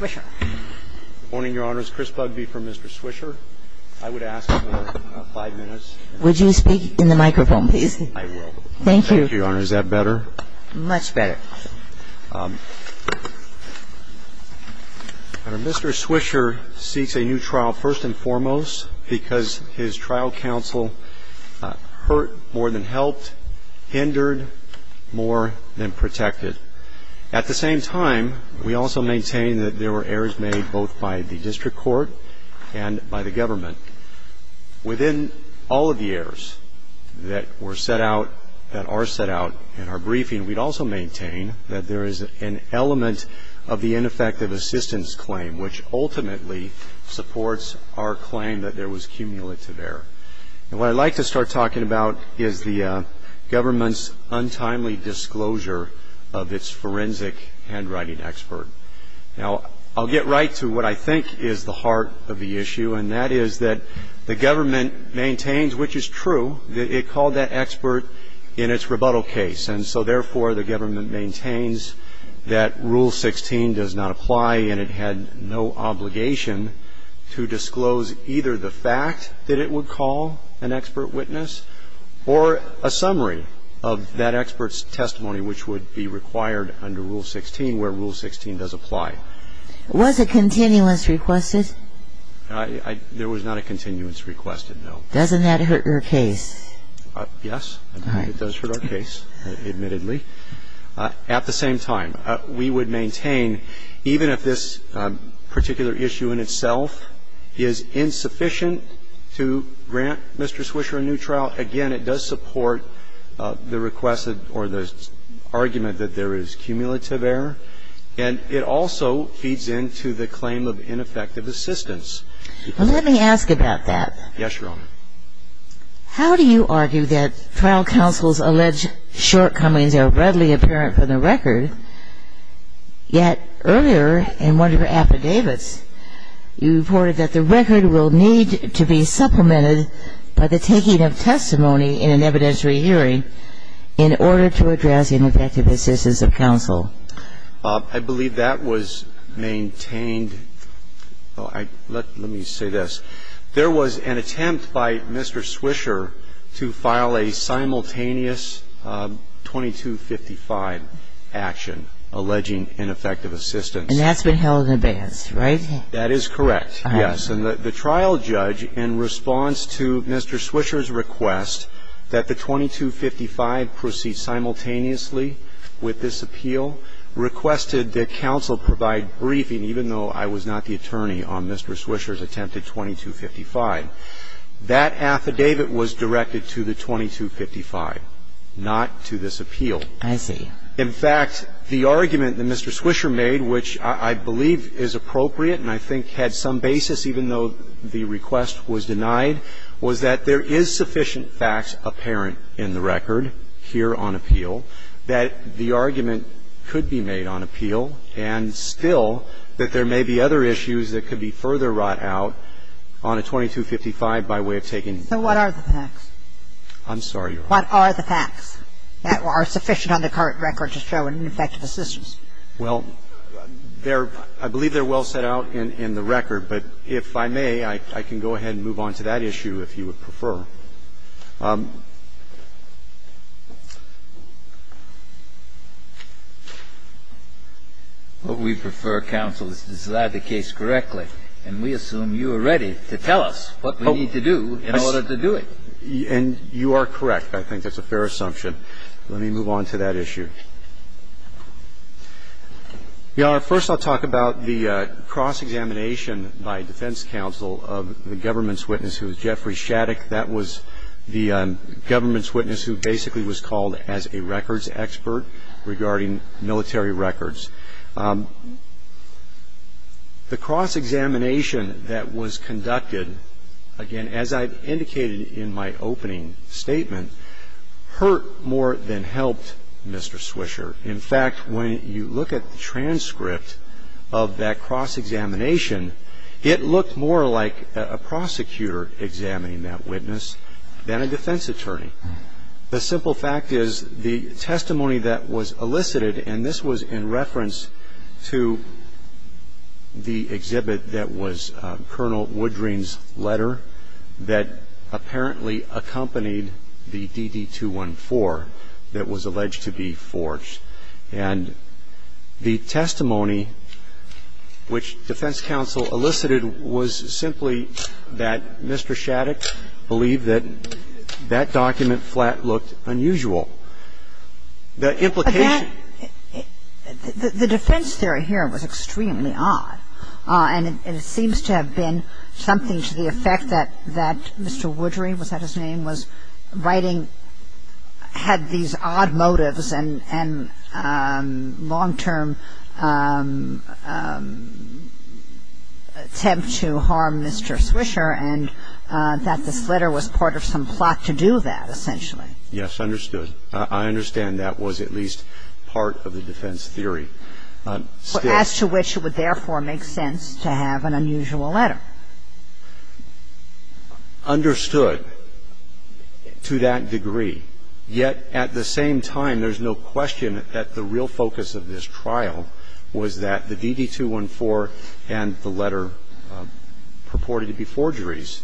Good morning, Your Honor. This is Chris Bugbee from Mr. Swisher. I would ask for five minutes. Would you speak in the microphone, please? I will. Thank you. Thank you, Your Honor. Is that better? Much better. Mr. Swisher seeks a new trial first and foremost because his trial counsel hurt more than helped, hindered more than protected. At the same time, we also maintain that there were errors made both by the district court and by the government. Within all of the errors that were set out, that are set out in our briefing, we'd also maintain that there is an element of the ineffective assistance claim, which ultimately supports our claim that there was cumulative error. And what I'd like to start talking about is the government's untimely disclosure of its forensic handwriting expert. Now, I'll get right to what I think is the heart of the issue, and that is that the government maintains, which is true, that it called that expert in its rebuttal case. And so, therefore, the government maintains that Rule 16 does not apply, and it had no obligation to disclose either the fact that it would call an expert witness or a summary of that expert's testimony, which would be required under Rule 16 where Rule 16 does apply. Was a continuance requested? There was not a continuance requested, no. Doesn't that hurt your case? Yes, it does hurt our case, admittedly. At the same time, we would maintain, even if this particular issue in itself is insufficient to grant Mr. Swisher a new trial, again, it does support the request or the argument that there is cumulative error. And it also feeds into the claim of ineffective assistance. Well, let me ask about that. Yes, Your Honor. How do you argue that trial counsel's alleged shortcomings are readily apparent from the record, yet earlier in one of your affidavits you reported that the record will need to be supplemented by the taking of testimony in an evidentiary hearing in order to address ineffective assistance of counsel? I believe that was maintained. Let me say this. There was an attempt by Mr. Swisher to file a simultaneous 2255 action alleging ineffective assistance. And that's been held in advance, right? That is correct, yes. And the trial judge, in response to Mr. Swisher's request that the 2255 proceed simultaneously with this appeal, requested that counsel provide briefing, even though I was not the attorney on Mr. Swisher's attempted 2255. That affidavit was directed to the 2255, not to this appeal. I see. In fact, the argument that Mr. Swisher made, which I believe is appropriate and I think had some basis, even though the request was denied, was that there is sufficient facts apparent in the record here on appeal that the argument could be made on appeal and still that there may be other issues that could be further wrought out on a 2255 by way of taking the appeal. So what are the facts? I'm sorry, Your Honor. What are the facts that are sufficient on the current record to show an ineffective assistance? Well, I believe they're well set out in the record. But if I may, I can go ahead and move on to that issue if you would prefer. What we prefer, counsel, is to decide the case correctly, and we assume you are ready to tell us what we need to do in order to do it. And you are correct. I think that's a fair assumption. Let me move on to that issue. Your Honor, first I'll talk about the cross-examination by defense counsel of the government's witness who is Jeffrey Shattuck. That was the government's witness who basically was called as a records expert regarding military records. The cross-examination that was conducted, again, as I indicated in my opening statement, hurt more than helped Mr. Swisher. In fact, when you look at the transcript of that cross-examination, it looked more like a prosecutor examining that witness than a defense attorney. The simple fact is the testimony that was elicited, and this was in reference to the exhibit that was Colonel Woodring's letter that apparently accompanied the DD-214 that was alleged to be forged. And the testimony which defense counsel elicited was simply that Mr. Shattuck believed that that document flat looked unusual. The implication of that was that the defense theory here was extremely odd, and it seems to have been something to the effect that Mr. Woodring, was that his name, was writing to Mr. Shattuck, and had these odd motives and long-term attempt to harm Mr. Swisher and that this letter was part of some plot to do that, essentially. Yes, understood. I understand that was at least part of the defense theory. As to which it would therefore make sense to have an unusual letter. Understood to that degree, yet at the same time there's no question that the real focus of this trial was that the DD-214 and the letter purported to be forgeries.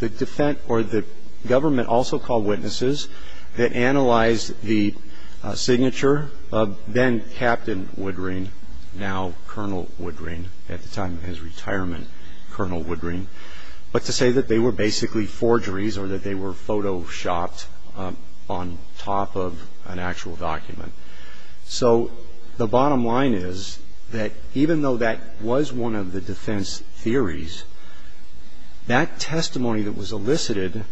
The government also called witnesses that analyzed the signature of then-Captain Woodring, now Colonel Woodring, at the time of his retirement, Colonel Woodring, but to say that they were basically forgeries or that they were photoshopped on top of an actual document. So the bottom line is that even though that was one of the defense theories, that testimony that was elicited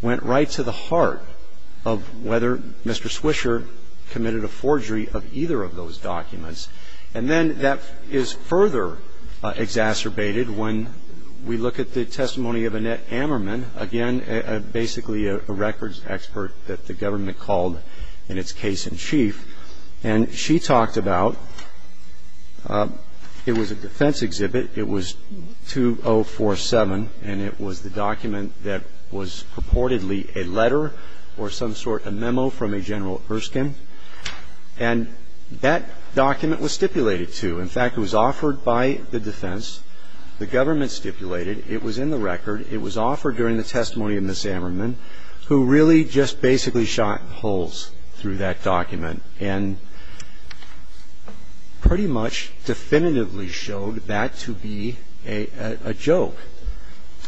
went right to the heart of whether Mr. Swisher committed a forgery of either of those documents. And then that is further exacerbated when we look at the testimony of Annette Ammerman, again basically a records expert that the government called in its case-in-chief. And she talked about it was a defense exhibit. It was 2047, and it was the document that was purportedly a letter or some sort, a memo from a General Erskine. And that document was stipulated to. In fact, it was offered by the defense. The government stipulated it was in the record. It was offered during the testimony of Ms. Ammerman, who really just basically shot holes through that document and pretty much definitively showed that to be a joke,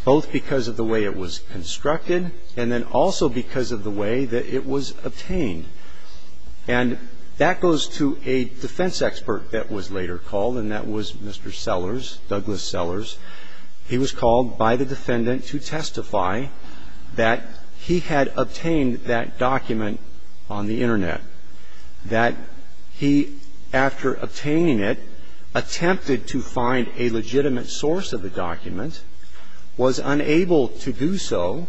both because of the way it was constructed and then also because of the way that it was obtained. And that goes to a defense expert that was later called, and that was Mr. Sellers, Douglas Sellers. He was called by the defendant to testify that he had obtained that document on the Internet, that he, after obtaining it, attempted to find a legitimate source of the document, was unable to do so,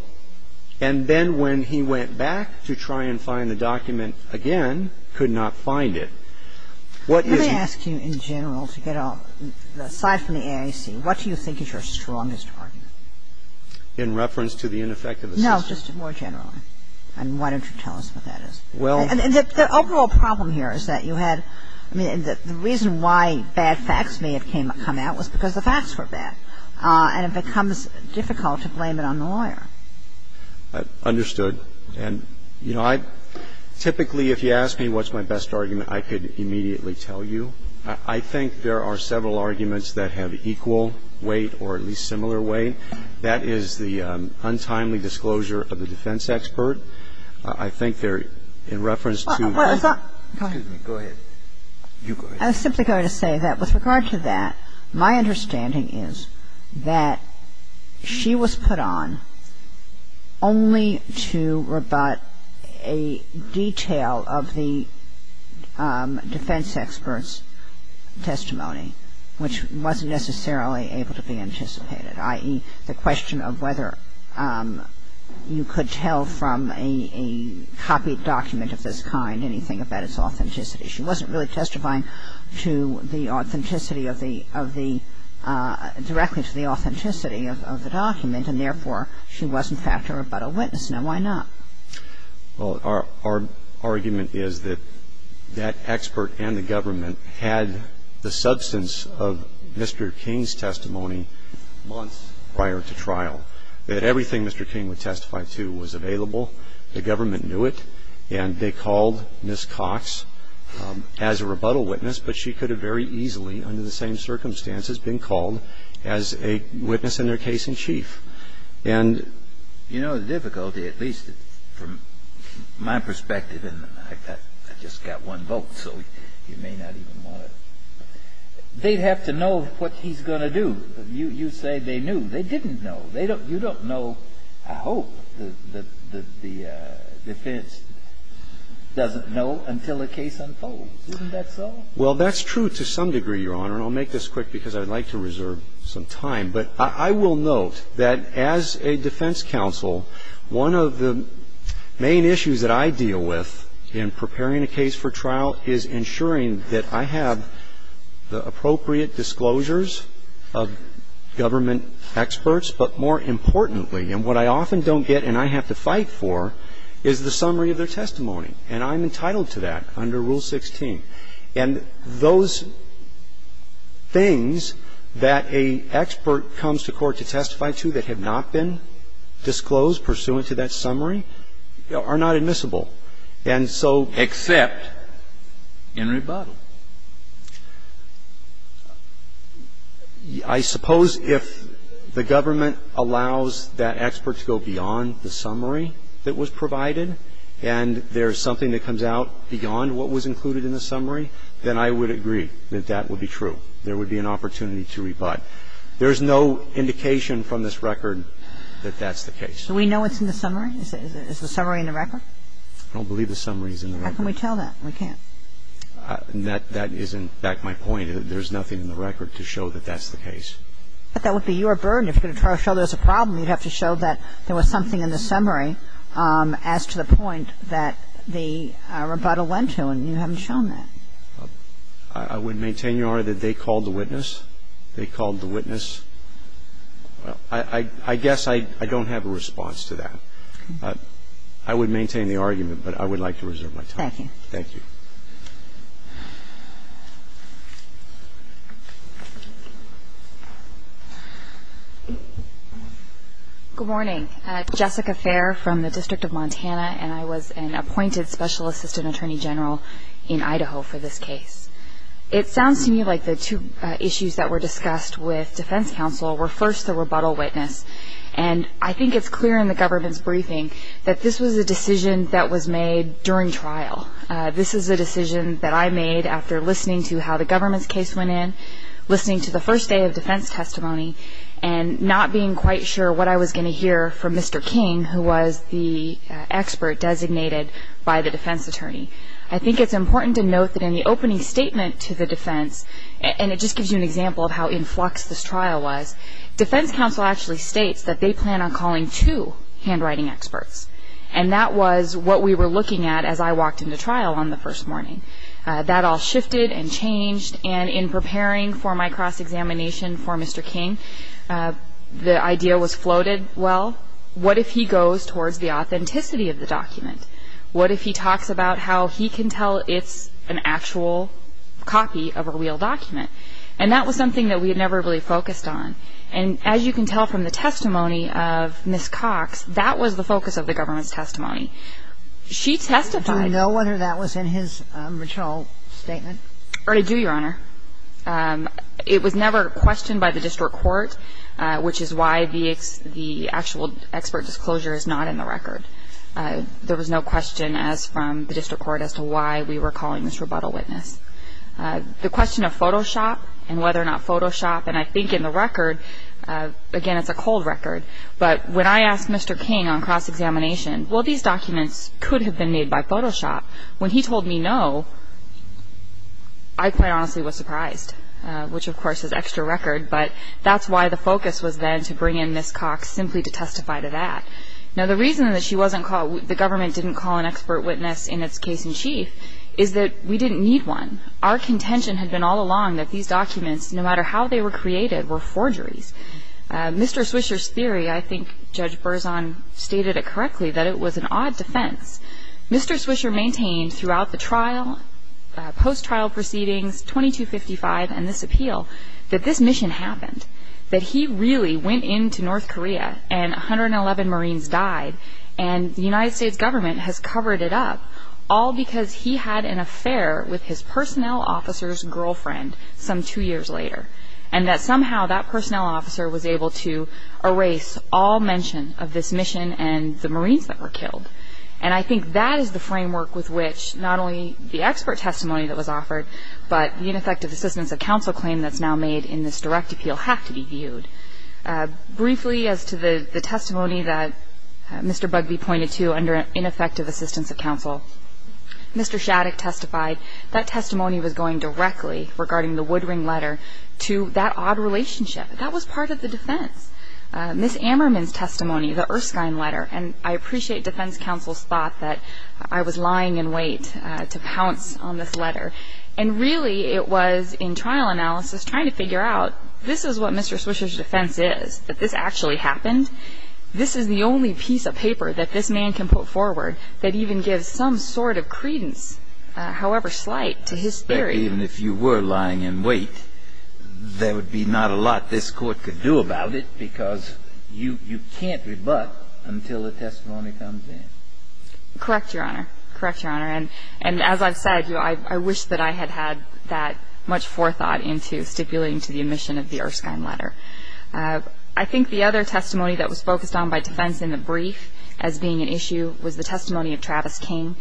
and then when he went back to try and find the document again, could not find it. Kagan. Let me ask you in general to get a ---- aside from the AIC, what do you think is your strongest argument? Carvin. In reference to the ineffectiveness? Kagan. No, just more generally. And why don't you tell us what that is? Carvin. Well ---- Kagan. And the overall problem here is that you had ---- I mean, the reason why bad facts may have come out was because the facts were bad. And it becomes difficult to blame it on the lawyer. Carvin. Understood. And, you know, I ---- typically if you ask me what's my best argument, I could immediately tell you. I think there are several arguments that have equal weight or at least similar weight. That is the untimely disclosure of the defense expert. I think they're in reference to ---- Kagan. Go ahead. You go ahead. I was simply going to say that with regard to that, my understanding is that she was put on only to rebut a detail of the defense expert's testimony, which wasn't necessarily able to be anticipated, i.e., the question of whether you could tell from a copied document of this kind anything about its authenticity. She wasn't really testifying to the authenticity of the ---- directly to the authenticity of the document. And, therefore, she was, in fact, a rebuttal witness. Now, why not? Well, our argument is that that expert and the government had the substance of Mr. King's testimony months prior to trial, that everything Mr. King would testify to was available. The government knew it. And they called Ms. Cox as a rebuttal witness, but she could have very easily, under the same circumstances, been called as a witness in their case-in-chief. And you know the difficulty, at least from my perspective, and I just got one vote, so you may not even want to ---- They'd have to know what he's going to do. You say they knew. They didn't know. You don't know, I hope, that the defense doesn't know until the case unfolds. Isn't that so? Well, that's true to some degree, Your Honor. And I'll make this quick because I'd like to reserve some time. But I will note that as a defense counsel, one of the main issues that I deal with in preparing a case for trial is ensuring that I have the appropriate disclosures of government experts, but more importantly, and what I often don't get and I have to fight for, is the summary of their testimony. And I'm entitled to that under Rule 16. And those things that an expert comes to court to testify to that have not been disclosed pursuant to that summary are not admissible. And so ---- And I'm entitled to that in rebuttal. I suppose if the government allows that expert to go beyond the summary that was provided and there's something that comes out beyond what was included in the summary, then I would agree that that would be true. There would be an opportunity to rebut. There's no indication from this record that that's the case. Do we know what's in the summary? Is the summary in the record? I don't believe the summary is in the record. How can we tell that? We can't. That isn't, in fact, my point. There's nothing in the record to show that that's the case. But that would be your burden. If you're going to try to show there's a problem, you'd have to show that there was something in the summary as to the point that the rebuttal went to, and you haven't shown that. I would maintain, Your Honor, that they called the witness. They called the witness. I guess I don't have a response to that. I would maintain the argument, but I would like to reserve my time. Thank you. Thank you. Good morning. Jessica Fair from the District of Montana, and I was an appointed Special Assistant Attorney General in Idaho for this case. It sounds to me like the two issues that were discussed with defense counsel were, first, the rebuttal witness. And I think it's clear in the government's briefing that this was a decision that was made during trial. This is a decision that I made after listening to how the government's case went in, listening to the first day of defense testimony, and not being quite sure what I was going to hear from Mr. King, who was the expert designated by the defense attorney. I think it's important to note that in the opening statement to the defense, and it just gives you an example of how in flux this trial was, defense counsel actually states that they plan on calling two handwriting experts. And that was what we were looking at as I walked into trial on the first morning. That all shifted and changed, and in preparing for my cross-examination for Mr. King, the idea was floated. Well, what if he goes towards the authenticity of the document? What if he talks about how he can tell it's an actual copy of a real document? And that was something that we had never really focused on. And as you can tell from the testimony of Ms. Cox, that was the focus of the government's testimony. She testified. Do we know whether that was in his original statement? I do, Your Honor. It was never questioned by the district court, which is why the actual expert disclosure is not in the record. There was no question as from the district court as to why we were calling this rebuttal witness. The question of Photoshop and whether or not Photoshop, and I think in the record, again, it's a cold record, but when I asked Mr. King on cross-examination, well, these documents could have been made by Photoshop. When he told me no, I quite honestly was surprised, which of course is extra record, but that's why the focus was then to bring in Ms. Cox simply to testify to that. Now, the reason that she wasn't called, the government didn't call an expert witness in its case-in-chief is that we didn't need one. Our contention had been all along that these documents, no matter how they were created, were forgeries. Mr. Swisher's theory, I think Judge Berzon stated it correctly, that it was an odd defense. Mr. Swisher maintained throughout the trial, post-trial proceedings, 2255 and this appeal, that this mission happened, that he really went into North Korea and because he had an affair with his personnel officer's girlfriend some two years later, and that somehow that personnel officer was able to erase all mention of this mission and the Marines that were killed. And I think that is the framework with which not only the expert testimony that was offered, but the ineffective assistance of counsel claim that's now made in this direct appeal have to be viewed. Briefly, as to the testimony that Mr. Bugbee pointed to under ineffective assistance of counsel, Mr. Shattuck testified that testimony was going directly regarding the Woodring letter to that odd relationship. That was part of the defense. Ms. Ammerman's testimony, the Erskine letter, and I appreciate defense counsel's thought that I was lying in wait to pounce on this letter. And really it was in trial analysis trying to figure out this is what Mr. Swisher's defense is, that this actually happened. This is the only piece of paper that this man can put forward that even gives some sort of credence, however slight, to his theory. Even if you were lying in wait, there would be not a lot this Court could do about it because you can't rebut until the testimony comes in. Correct, Your Honor. Correct, Your Honor. And as I've said, I wish that I had had that much forethought into stipulating to the admission of the Erskine letter. I think the other testimony that was focused on by defense in the brief as being an issue was the testimony of Travis King,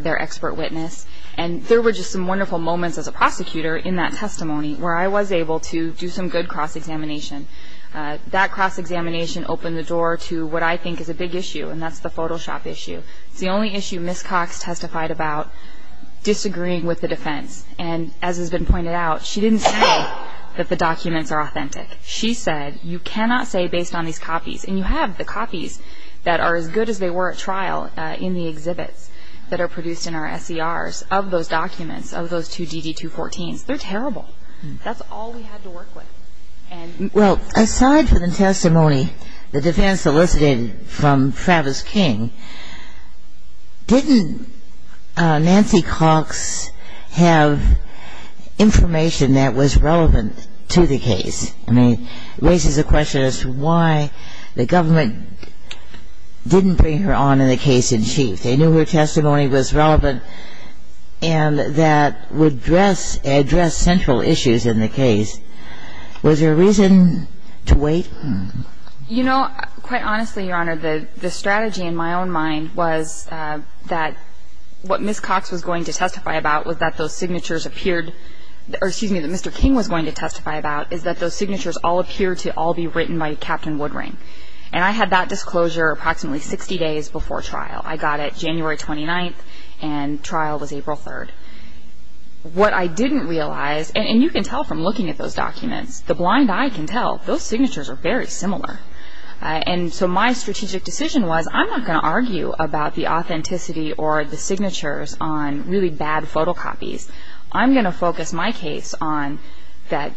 their expert witness. And there were just some wonderful moments as a prosecutor in that testimony where I was able to do some good cross-examination. That cross-examination opened the door to what I think is a big issue, and that's the Photoshop issue. It's the only issue Ms. Cox testified about disagreeing with the defense. And as has been pointed out, she didn't say that the documents are authentic. She said you cannot say based on these copies, and you have the copies that are as good as they were at trial in the exhibits that are produced in our SCRs of those documents, of those two DD-214s. They're terrible. That's all we had to work with. Well, aside from the testimony the defense solicited from Travis King, didn't Nancy Cox have information that was relevant to the case? I mean, it raises the question as to why the government didn't bring her on in the case in chief. They knew her testimony was relevant and that would address central issues in the case. Was there a reason to wait? You know, quite honestly, Your Honor, the strategy in my own mind was that what Ms. Cox was going to testify about was that those signatures appeared or, excuse me, that Mr. King was going to testify about is that those signatures all appear to all be written by Captain Woodring. And I had that disclosure approximately 60 days before trial. I got it January 29th, and trial was April 3rd. What I didn't realize, and you can tell from looking at those documents, the blind eye can tell, those signatures are very similar. And so my strategic decision was I'm not going to argue about the authenticity or the signatures on really bad photocopies. I'm going to focus my case on that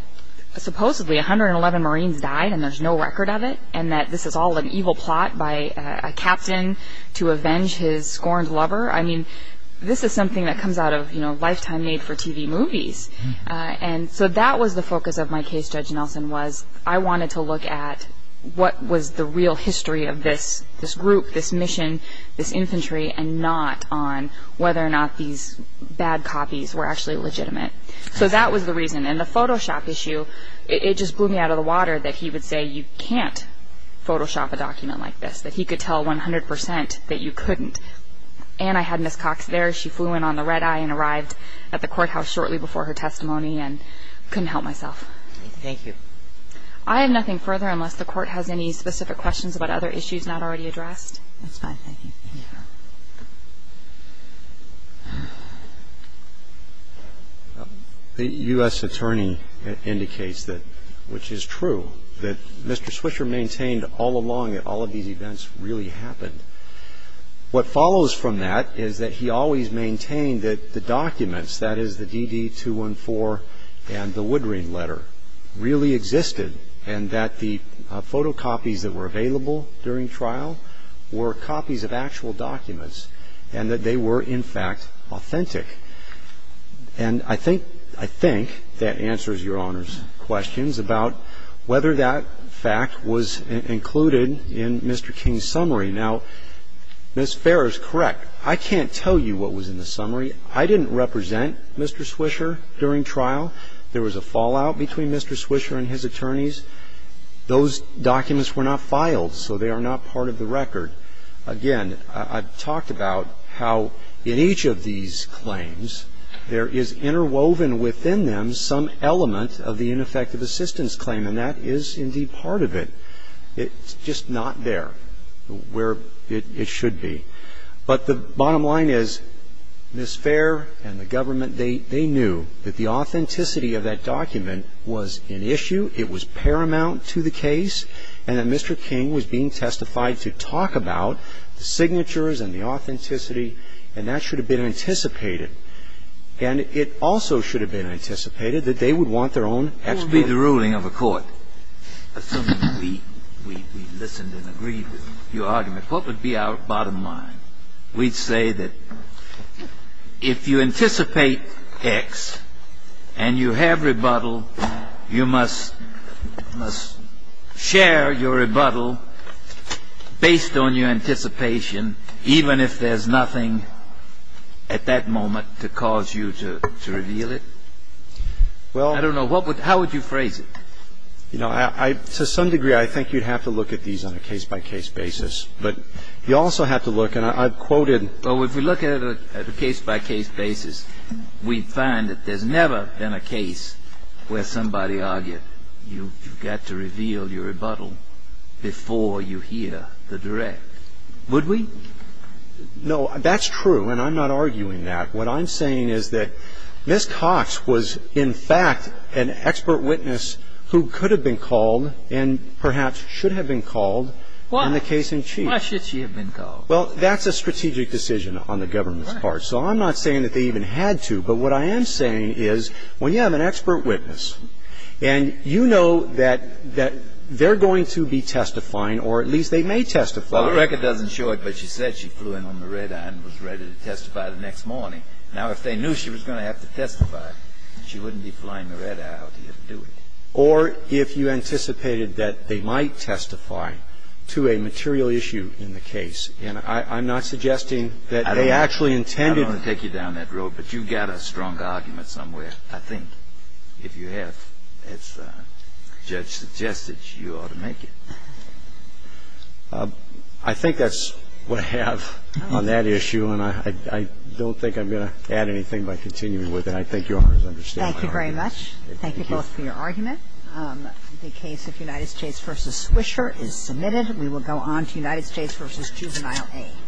supposedly 111 Marines died and there's no record of it and that this is all an evil plot by a captain to avenge his scorned lover. I mean, this is something that comes out of, you know, lifetime made-for-TV movies. And so that was the focus of my case, Judge Nelson, was I wanted to look at what was the real history of this group, this mission, this infantry, and not on whether or not these bad copies were actually legitimate. So that was the reason. And the Photoshop issue, it just blew me out of the water that he would say you can't Photoshop a document like this, that he could tell 100% that you couldn't. And I had Ms. Cox there. She flew in on the red eye and arrived at the courthouse shortly before her testimony and couldn't help myself. Thank you. I have nothing further unless the Court has any specific questions about other issues not already addressed. That's fine. Thank you. The U.S. Attorney indicates that, which is true, that Mr. Swisher maintained all along that all of these events really happened. What follows from that is that he always maintained that the documents, that is the DD-214 and the Woodring letter, really existed and that the photocopies that were available during trial were copies of actual documents and that they were, in fact, authentic. And I think that answers Your Honor's questions about whether that fact was included in Mr. King's summary. Now, Ms. Farrer is correct. I can't tell you what was in the summary. I didn't represent Mr. Swisher during trial. There was a fallout between Mr. Swisher and his attorneys. Those documents were not filed, so they are not part of the record. Again, I've talked about how in each of these claims, there is interwoven within them some element of the ineffective assistance claim, and that is indeed part of it. It's just not there where it should be. But the bottom line is, Ms. Farrer and the government, they knew that the authenticity of that document was an issue, it was paramount to the case, and that Mr. King was being testified to talk about the signatures and the authenticity, and that should have been anticipated. And it also should have been anticipated that they would want their own expert. Kennedy. I don't know. What would be the ruling of a court? Assuming we listened and agreed with your argument, what would be our bottom line? We'd say that if you anticipate X and you have rebuttal, you must share your rebuttal based on your anticipation, even if there's nothing at that moment to cause you to reveal it? Well, I don't know. How would you phrase it? You know, to some degree, I think you'd have to look at these on a case-by-case basis, but you also have to look, and I've quoted. Well, if we look at it at a case-by-case basis, we'd find that there's never been a case where somebody argued you've got to reveal your rebuttal before you hear the direct. Would we? No, that's true, and I'm not arguing that. What I'm saying is that Ms. Cox was, in fact, an expert witness who could have been called and perhaps should have been called in the case in chief. Why should she have been called? Well, that's a strategic decision on the government's part. So I'm not saying that they even had to. But what I am saying is when you have an expert witness and you know that they're going to be testifying or at least they may testify. Well, the record doesn't show it, but she said she flew in on the red eye and was ready to testify the next morning. Now, if they knew she was going to have to testify, she wouldn't be flying the red eye. How do you do it? Or if you anticipated that they might testify to a material issue in the case. And I'm not suggesting that they actually intended to. I don't take you down that road. But you've got a strong argument somewhere, I think. If you have, as the judge suggested, you ought to make it. I think that's what I have on that issue. And I don't think I'm going to add anything by continuing with it. I think Your Honors understand my argument. Thank you very much. Thank you both for your argument. The case of United States v. Swisher is submitted. We will go on to United States v. Juvenile A.